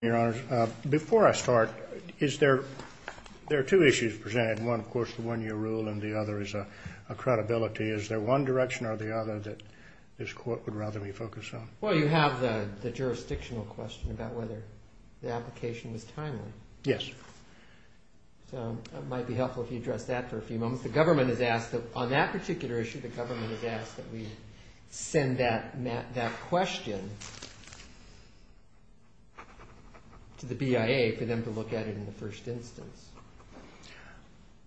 Your Honor, before I start, there are two issues presented. One, of course, the one-year rule, and the other is a credibility. Is there one direction or the other that this Court would rather we focus on? Well, you have the jurisdictional question about whether the application was timely. Yes. So it might be helpful if you address that for a few moments. The government has asked, on that particular issue, the government has asked that we send that question to the BIA for them to look at it in the first instance.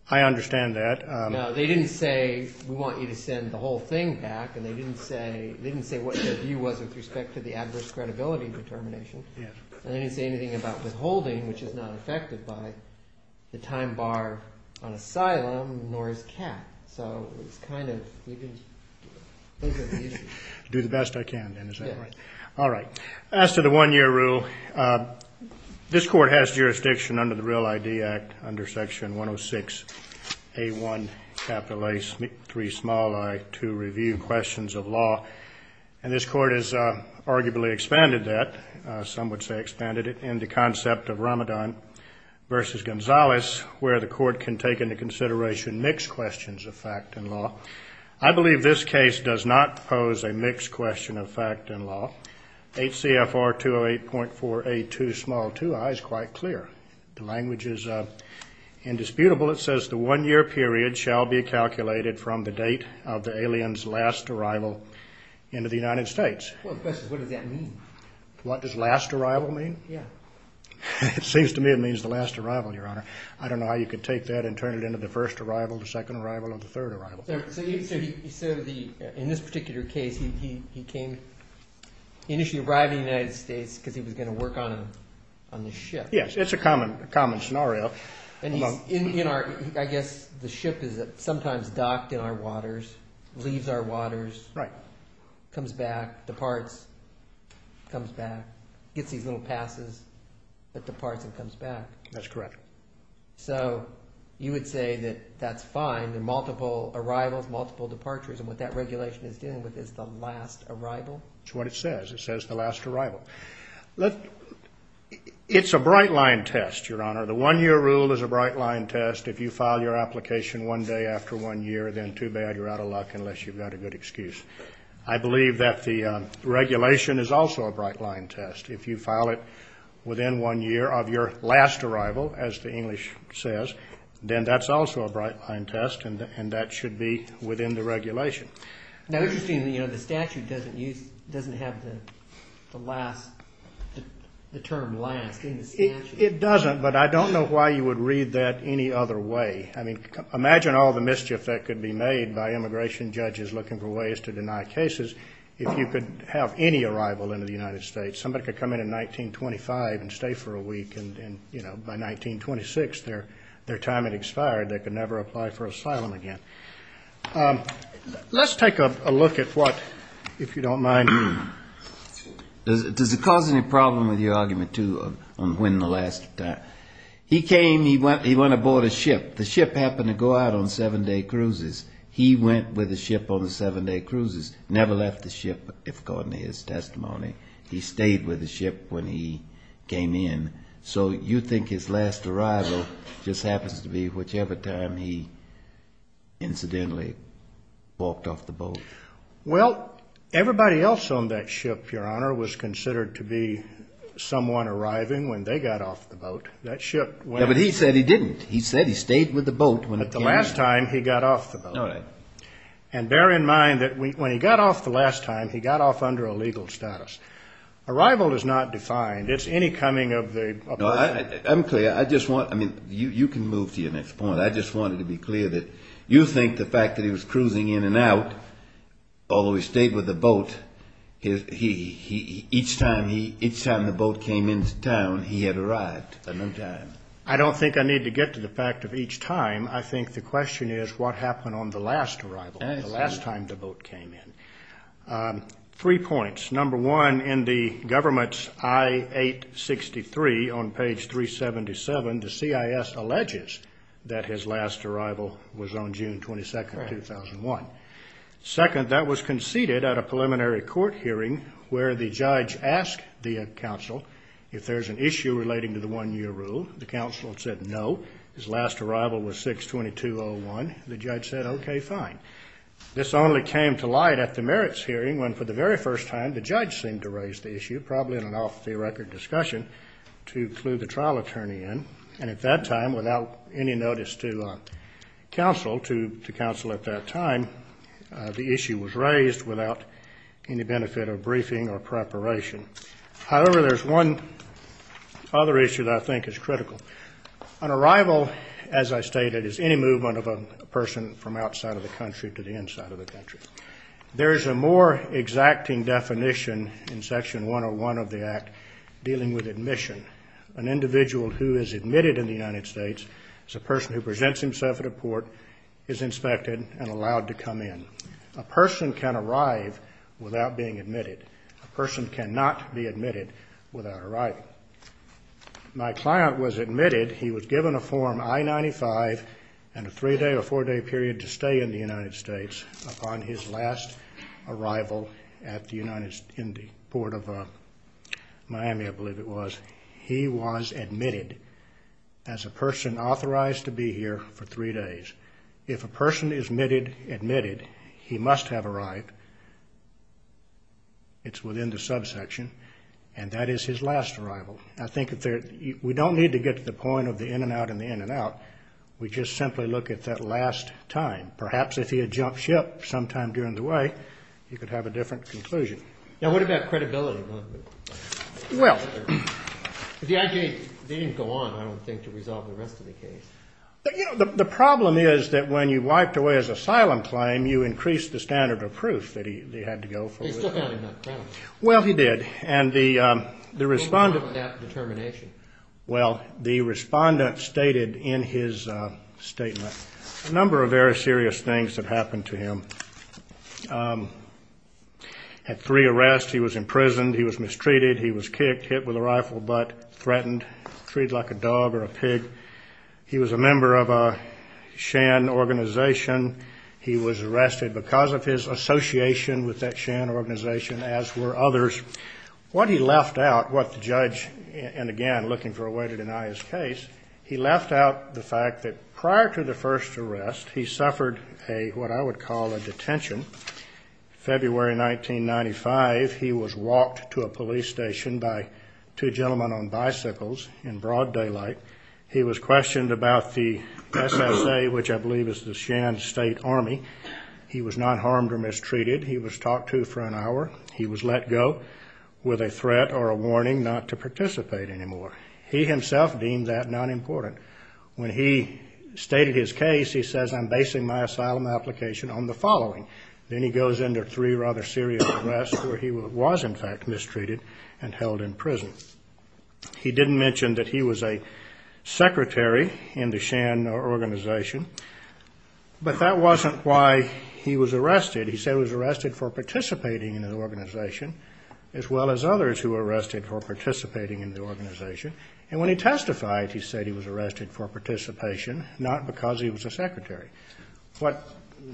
I understand that. No, they didn't say, we want you to send the whole thing back, and they didn't say what their view was with respect to the adverse credibility determination. Yes. And they didn't say anything about withholding, which is not affected by the time bar on asylum, nor is CAT. So it's kind of, you can think of the issues. Do the best I can, then, is that right? Yes. All right. As to the one-year rule, this Court has jurisdiction under the Real ID Act, under Section 106A1, capital A, 3 small i, to review questions of law. And this Court has arguably expanded that, some would say expanded it, in the concept of Ramadan versus Gonzales, where the Court can take into consideration mixed questions of fact and law. I believe this case does not pose a mixed question of fact and law. HCFR 208.482 small i is quite clear. The language is indisputable. It says the one-year period shall be calculated from the date of the alien's last arrival into the United States. Well, the question is, what does that mean? What does last arrival mean? Yeah. It seems to me it means the last arrival, Your Honor. I don't know how you can take that and turn it into the first arrival, the second arrival, or the third arrival. So in this particular case, he came, initially arrived in the United States because he was going to work on the ship. Yes. It's a common scenario. I guess the ship is sometimes docked in our waters, leaves our waters. Right. Comes back, departs, comes back, gets these little passes, but departs and comes back. That's correct. So you would say that that's fine in multiple arrivals, multiple departures, and what that regulation is dealing with is the last arrival? That's what it says. It says the last arrival. It's a bright-line test, Your Honor. The one-year rule is a bright-line test. If you file your application one day after one year, then too bad. You're out of luck unless you've got a good excuse. I believe that the regulation is also a bright-line test. If you file it within one year of your last arrival, as the English says, then that's also a bright-line test, and that should be within the regulation. Now, interestingly, you know, the statute doesn't have the term last in the statute. It doesn't, but I don't know why you would read that any other way. I mean, imagine all the mischief that could be made by immigration judges looking for ways to deny cases. If you could have any arrival into the United States, somebody could come in in 1925 and stay for a week, and, you know, by 1926, their time had expired. They could never apply for asylum again. Let's take a look at what, if you don't mind. Does it cause any problem with your argument, too, on when the last time? He came, he went aboard a ship. The ship happened to go out on seven-day cruises. He went with the ship on the seven-day cruises, never left the ship, according to his testimony. He stayed with the ship when he came in. So you think his last arrival just happens to be whichever time he incidentally walked off the boat? Well, everybody else on that ship, Your Honor, was considered to be someone arriving when they got off the boat. That ship went off. Yeah, but he said he didn't. He said he stayed with the boat when it came in. But the last time, he got off the boat. All right. And bear in mind that when he got off the last time, he got off under a legal status. Arrival is not defined. It's any coming of the person. No, I'm clear. I just want, I mean, you can move to your next point. I just wanted to be clear that you think the fact that he was cruising in and out, although he stayed with the boat, each time the boat came into town, he had arrived. At no time. I don't think I need to get to the fact of each time. I think the question is what happened on the last arrival, the last time the boat came in. Three points. Number one, in the government's I-863 on page 377, the CIS alleges that his last arrival was on June 22, 2001. Second, that was conceded at a preliminary court hearing where the judge asked the counsel if there's an issue relating to the one-year rule. The counsel said no. His last arrival was 6-22-01. The judge said, okay, fine. This only came to light at the merits hearing when, for the very first time, the judge seemed to raise the issue, probably in an off-the-record discussion, to clue the trial attorney in. And at that time, without any notice to counsel at that time, the issue was raised without any benefit of briefing or preparation. However, there's one other issue that I think is critical. An arrival, as I stated, is any movement of a person from outside of the country to the inside of the country. There is a more exacting definition in Section 101 of the Act dealing with admission. An individual who is admitted in the United States as a person who presents himself at a port is inspected and allowed to come in. A person can arrive without being admitted. A person cannot be admitted without arriving. My client was admitted. He was given a Form I-95 and a three-day or four-day period to stay in the United States. Upon his last arrival in the port of Miami, I believe it was, he was admitted as a person authorized to be here for three days. If a person is admitted, he must have arrived. It's within the subsection. And that is his last arrival. I think we don't need to get to the point of the in-and-out and the in-and-out. We just simply look at that last time. Perhaps if he had jumped ship sometime during the way, he could have a different conclusion. Now, what about credibility? The IJ didn't go on, I don't think, to resolve the rest of the case. You know, the problem is that when you wiped away his asylum claim, you increased the standard of proof that he had to go for. He still found him uncrowned. Well, he did. And the respondent. What about that determination? Well, the respondent stated in his statement a number of very serious things that happened to him. Had three arrests. He was imprisoned. He was mistreated. He was a member of a Shan organization. He was arrested because of his association with that Shan organization, as were others. What he left out, what the judge, and again, looking for a way to deny his case, he left out the fact that prior to the first arrest, he suffered what I would call a detention. February 1995, he was walked to a police station by two gentlemen on bicycles in broad daylight. He was questioned about the SSA, which I believe is the Shan State Army. He was not harmed or mistreated. He was talked to for an hour. He was let go with a threat or a warning not to participate anymore. He himself deemed that not important. When he stated his case, he says, I'm basing my asylum application on the following. Then he goes under three rather serious arrests where he was, in fact, mistreated and held in prison. He didn't mention that he was a secretary in the Shan organization, but that wasn't why he was arrested. He said he was arrested for participating in the organization, as well as others who were arrested for participating in the organization. And when he testified, he said he was arrested for participation, not because he was a secretary. What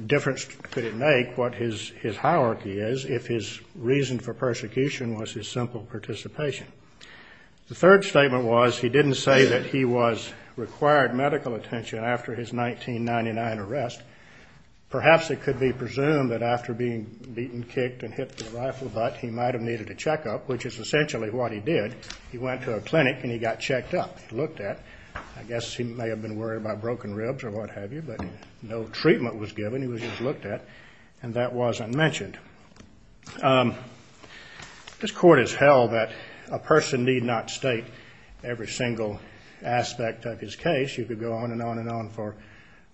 difference could it make what his hierarchy is if his reason for persecution was his simple participation? The third statement was he didn't say that he was required medical attention after his 1999 arrest. Perhaps it could be presumed that after being beaten, kicked, and hit with a rifle butt, he might have needed a checkup, which is essentially what he did. He went to a clinic and he got checked up. I guess he may have been worried about broken ribs or what have you, but no treatment was given. He was just looked at, and that wasn't mentioned. This court has held that a person need not state every single aspect of his case. You could go on and on and on for,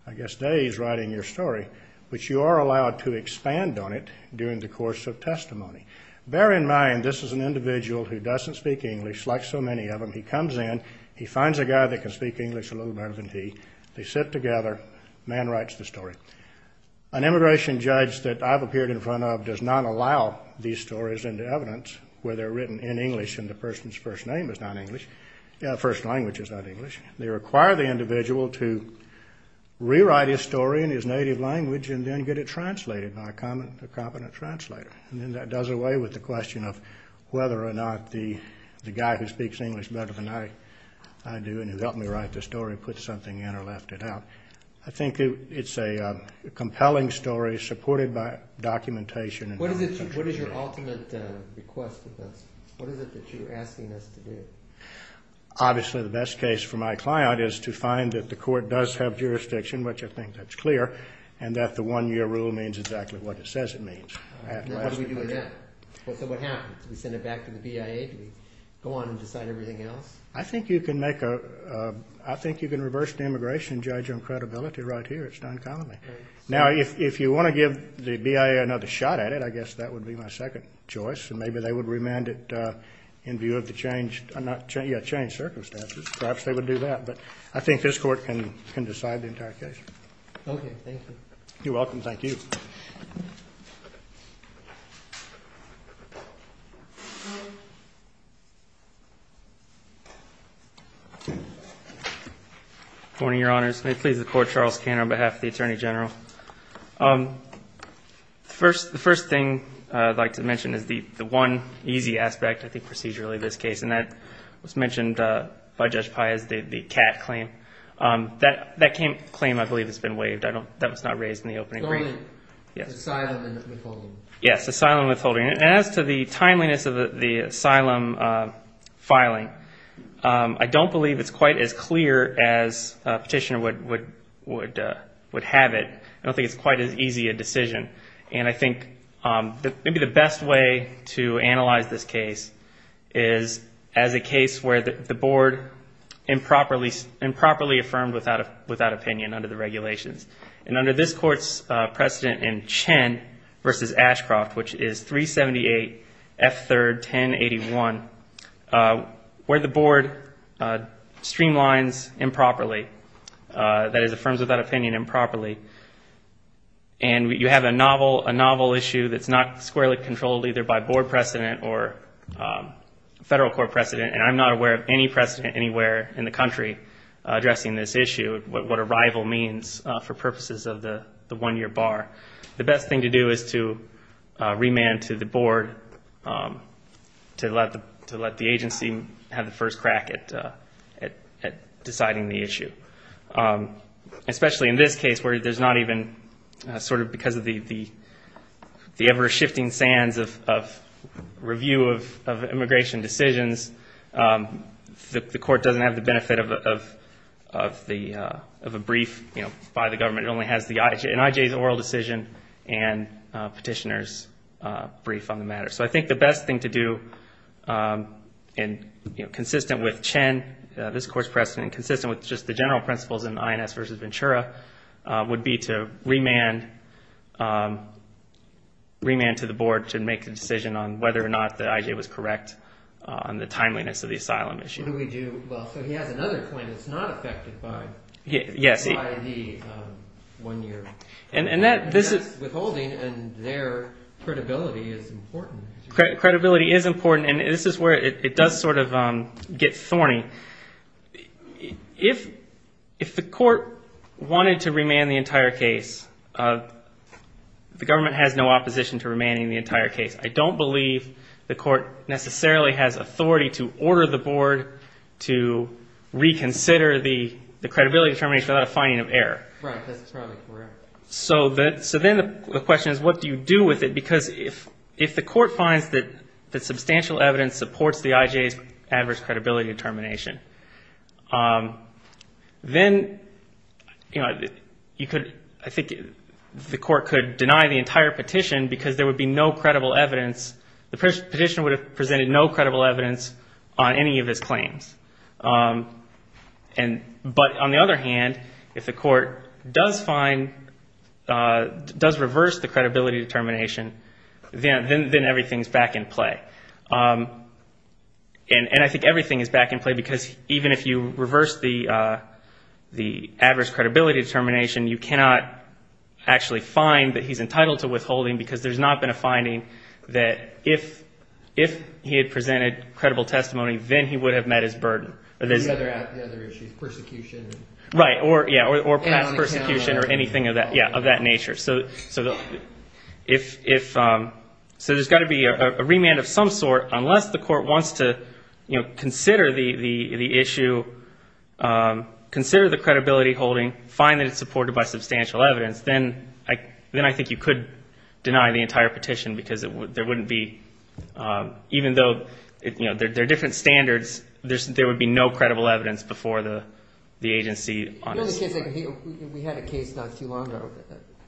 I guess, days writing your story, but you are allowed to expand on it during the course of testimony. Bear in mind, this is an individual who doesn't speak English, like so many of them. He comes in. He finds a guy that can speak English a little better than he. They sit together. The man writes the story. An immigration judge that I've appeared in front of does not allow these stories into evidence where they're written in English and the person's first name is not English, first language is not English. They require the individual to rewrite his story in his native language and then get it translated by a competent translator. And then that does away with the question of whether or not the guy who speaks English better than I do and who helped me write the story put something in or left it out. I think it's a compelling story supported by documentation. What is your ultimate request of this? What is it that you're asking us to do? Obviously, the best case for my client is to find that the court does have jurisdiction, which I think that's clear, and that the one-year rule means exactly what it says it means. What do we do with that? What happens? Do we send it back to the BIA? Do we go on and decide everything else? I think you can reverse the immigration judge on credibility right here. It's done commonly. Now, if you want to give the BIA another shot at it, I guess that would be my second choice, and maybe they would remand it in view of the changed circumstances. Perhaps they would do that. But I think this Court can decide the entire case. Okay. Thank you. You're welcome. Thank you. Good morning, Your Honors. May it please the Court, Charles Kanner on behalf of the Attorney General. The first thing I'd like to mention is the one easy aspect, I think, procedurally, of this case, and that was mentioned by Judge Pai as the CAT claim. That claim, I believe, has been waived. That was not raised in the opening. Asylum and withholding. Yes, asylum and withholding. And as to the timeliness of the asylum filing, I don't believe it's quite as clear as a petitioner would have it. I don't think it's quite as easy a decision. And I think maybe the best way to analyze this case is as a case where the Board improperly affirmed without opinion under the regulations. And under this Court's precedent in Chen v. Ashcroft, which is 378 F. 3rd, 1081, where the Board streamlines improperly, that is, affirms without opinion improperly, and you have a novel issue that's not squarely controlled either by Board precedent or Federal Court precedent, and I'm not aware of any precedent anywhere in the country addressing this issue, what arrival means for purposes of the one-year bar. The best thing to do is to remand to the Board to let the agency have the first crack at deciding the issue. Especially in this case where there's not even sort of because of the ever-shifting sands of review of immigration decisions, the Court doesn't have the benefit of a brief by the government. It only has an IJ's oral decision and petitioner's brief on the matter. So I think the best thing to do, consistent with Chen, this Court's precedent, and consistent with just the general principles in INS v. Ventura, would be to remand to the Board to make a decision on whether or not the IJ was correct on the timeliness of the asylum issue. What do we do? Well, so he has another point that's not affected by the one-year. That's withholding, and their credibility is important. Credibility is important, and this is where it does sort of get thorny. If the Court wanted to remand the entire case, the government has no opposition to remanding the entire case. I don't believe the Court necessarily has authority to order the Board to reconsider the credibility determination without a finding of error. Right, that's probably correct. So then the question is, what do you do with it? Because if the Court finds that substantial evidence supports the IJ's adverse credibility determination, then I think the Court could deny the entire petition because there would be no credible evidence. The petitioner would have presented no credible evidence on any of his claims. But on the other hand, if the Court does find, does reverse the credibility determination, then everything's back in play. And I think everything is back in play because even if you reverse the adverse credibility determination, you cannot actually find that he's entitled to withholding because there's not been a finding that if he had presented credible testimony, then he would have met his burden. The other issue is persecution. Right, or past persecution or anything of that nature. So there's got to be a remand of some sort unless the Court wants to consider the issue, consider the credibility holding, find that it's supported by substantial evidence, then I think you could deny the entire petition because there wouldn't be, even though there are different standards, there would be no credible evidence before the agency on its side. We had a case not too long ago,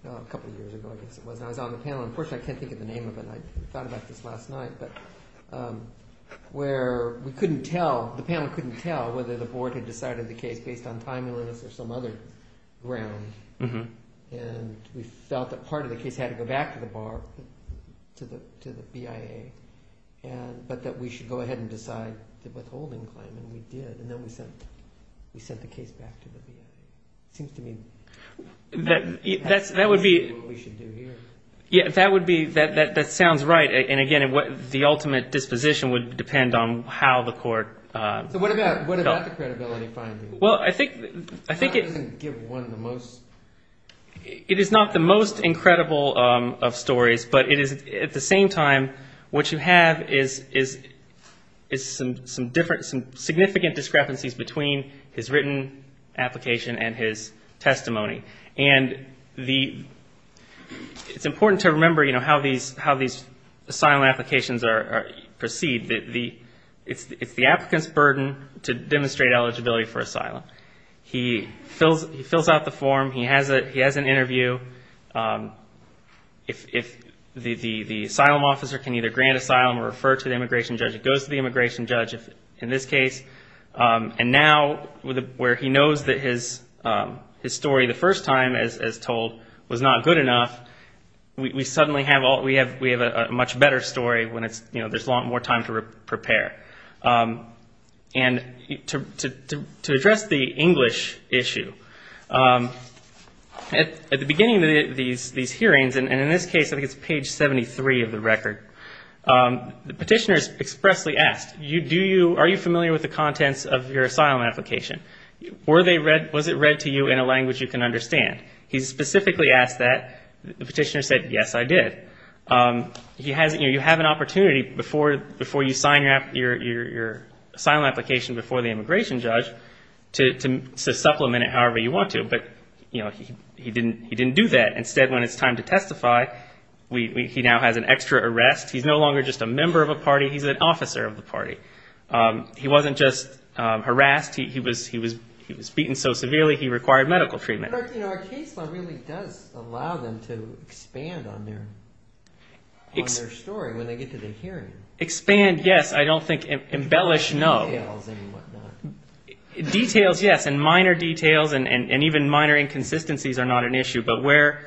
a couple of years ago I guess it was, and I was on the panel. Unfortunately, I can't think of the name of it. I thought about this last night. But where we couldn't tell, the panel couldn't tell whether the Board had decided the case based on timeliness or some other ground. And we felt that part of the case had to go back to the BAR, to the BIA, but that we should go ahead and decide the withholding claim, and we did, and then we sent the case back to the BIA. It seems to me that's what we should do here. Yeah, that would be, that sounds right. And, again, the ultimate disposition would depend on how the Court felt. So what about the credibility finding? Well, I think it is not the most incredible of stories, but it is at the same time what you have is some significant discrepancies between his written application and his testimony. And it's important to remember how these asylum applications proceed. It's the applicant's burden to demonstrate eligibility for asylum. He fills out the form. He has an interview. The asylum officer can either grant asylum or refer to the immigration judge. It goes to the immigration judge in this case. And now, where he knows that his story the first time, as told, was not good enough, we suddenly have a much better story when there's a lot more time to prepare. And to address the English issue, at the beginning of these hearings, and in this case I think it's page 73 of the record, the petitioner is expressly asked, are you familiar with the contents of your asylum application? Was it read to you in a language you can understand? He specifically asked that. The petitioner said, yes, I did. You have an opportunity before you sign your asylum application before the immigration judge to supplement it however you want to. But he didn't do that. Instead, when it's time to testify, he now has an extra arrest. He's no longer just a member of a party. He's an officer of the party. He wasn't just harassed. He was beaten so severely he required medical treatment. Our case law really does allow them to expand on their story when they get to the hearing. Expand, yes. I don't think embellish, no. Details and whatnot. Details, yes, and minor details and even minor inconsistencies are not an issue. But where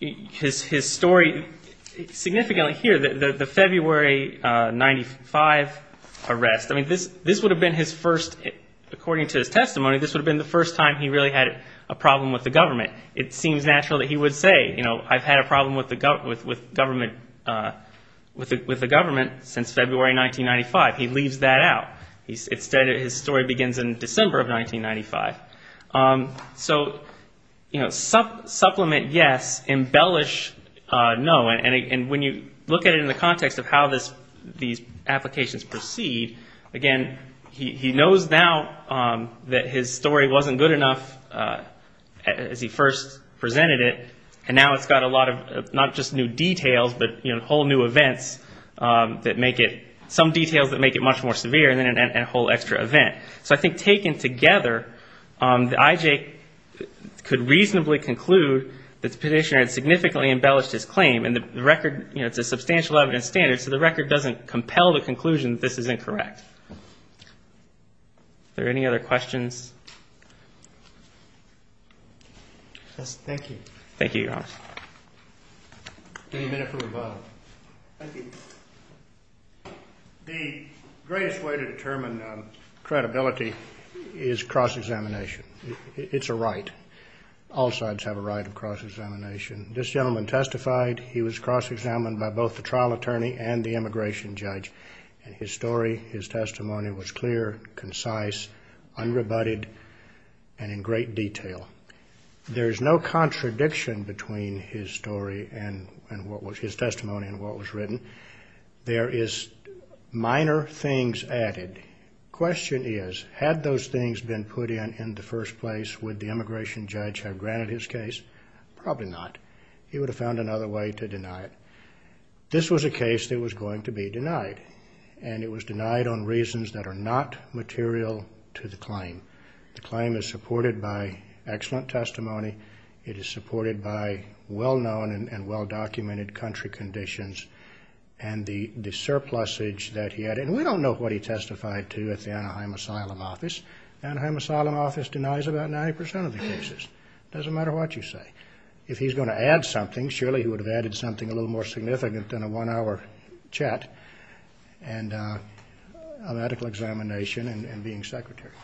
his story significantly here, the February 1995 arrest, this would have been his first, according to his testimony, this would have been the first time he really had a problem with the government. It seems natural that he would say, you know, I've had a problem with the government since February 1995. He leaves that out. Instead, his story begins in December of 1995. So supplement, yes. Embellish, no. And when you look at it in the context of how these applications proceed, again, he knows now that his story wasn't good enough as he first presented it, and now it's got a lot of not just new details but, you know, whole new events that make it some details that make it much more severe and a whole extra event. So I think taken together, the IJ could reasonably conclude that the petitioner had significantly embellished his claim. And the record, you know, it's a substantial evidence standard, so the record doesn't compel the conclusion that this is incorrect. Are there any other questions? Thank you. Thank you, Your Honor. Any minute from the bottom. The greatest way to determine credibility is cross-examination. It's a right. All sides have a right of cross-examination. This gentleman testified. He was cross-examined by both the trial attorney and the immigration judge, and his story, his testimony was clear, concise, unrebutted, and in great detail. There is no contradiction between his story and what was his testimony and what was written. There is minor things added. Question is, had those things been put in in the first place, would the immigration judge have granted his case? Probably not. He would have found another way to deny it. This was a case that was going to be denied, and it was denied on reasons that are not material to the claim. The claim is supported by excellent testimony. It is supported by well-known and well-documented country conditions, and the surplusage that he had. And we don't know what he testified to at the Anaheim Asylum Office. The Anaheim Asylum Office denies about 90 percent of the cases. It doesn't matter what you say. If he's going to add something, surely he would have added something a little more significant than a one-hour chat and a medical examination and being secretary.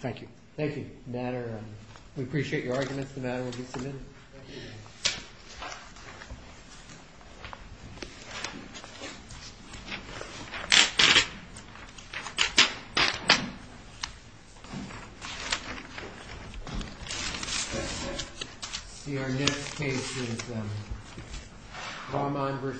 Thank you. Thank you. We appreciate your arguments. The matter will be submitted. Let's see. Our next case is Rahman v. Pizza. Nazibur Rahman.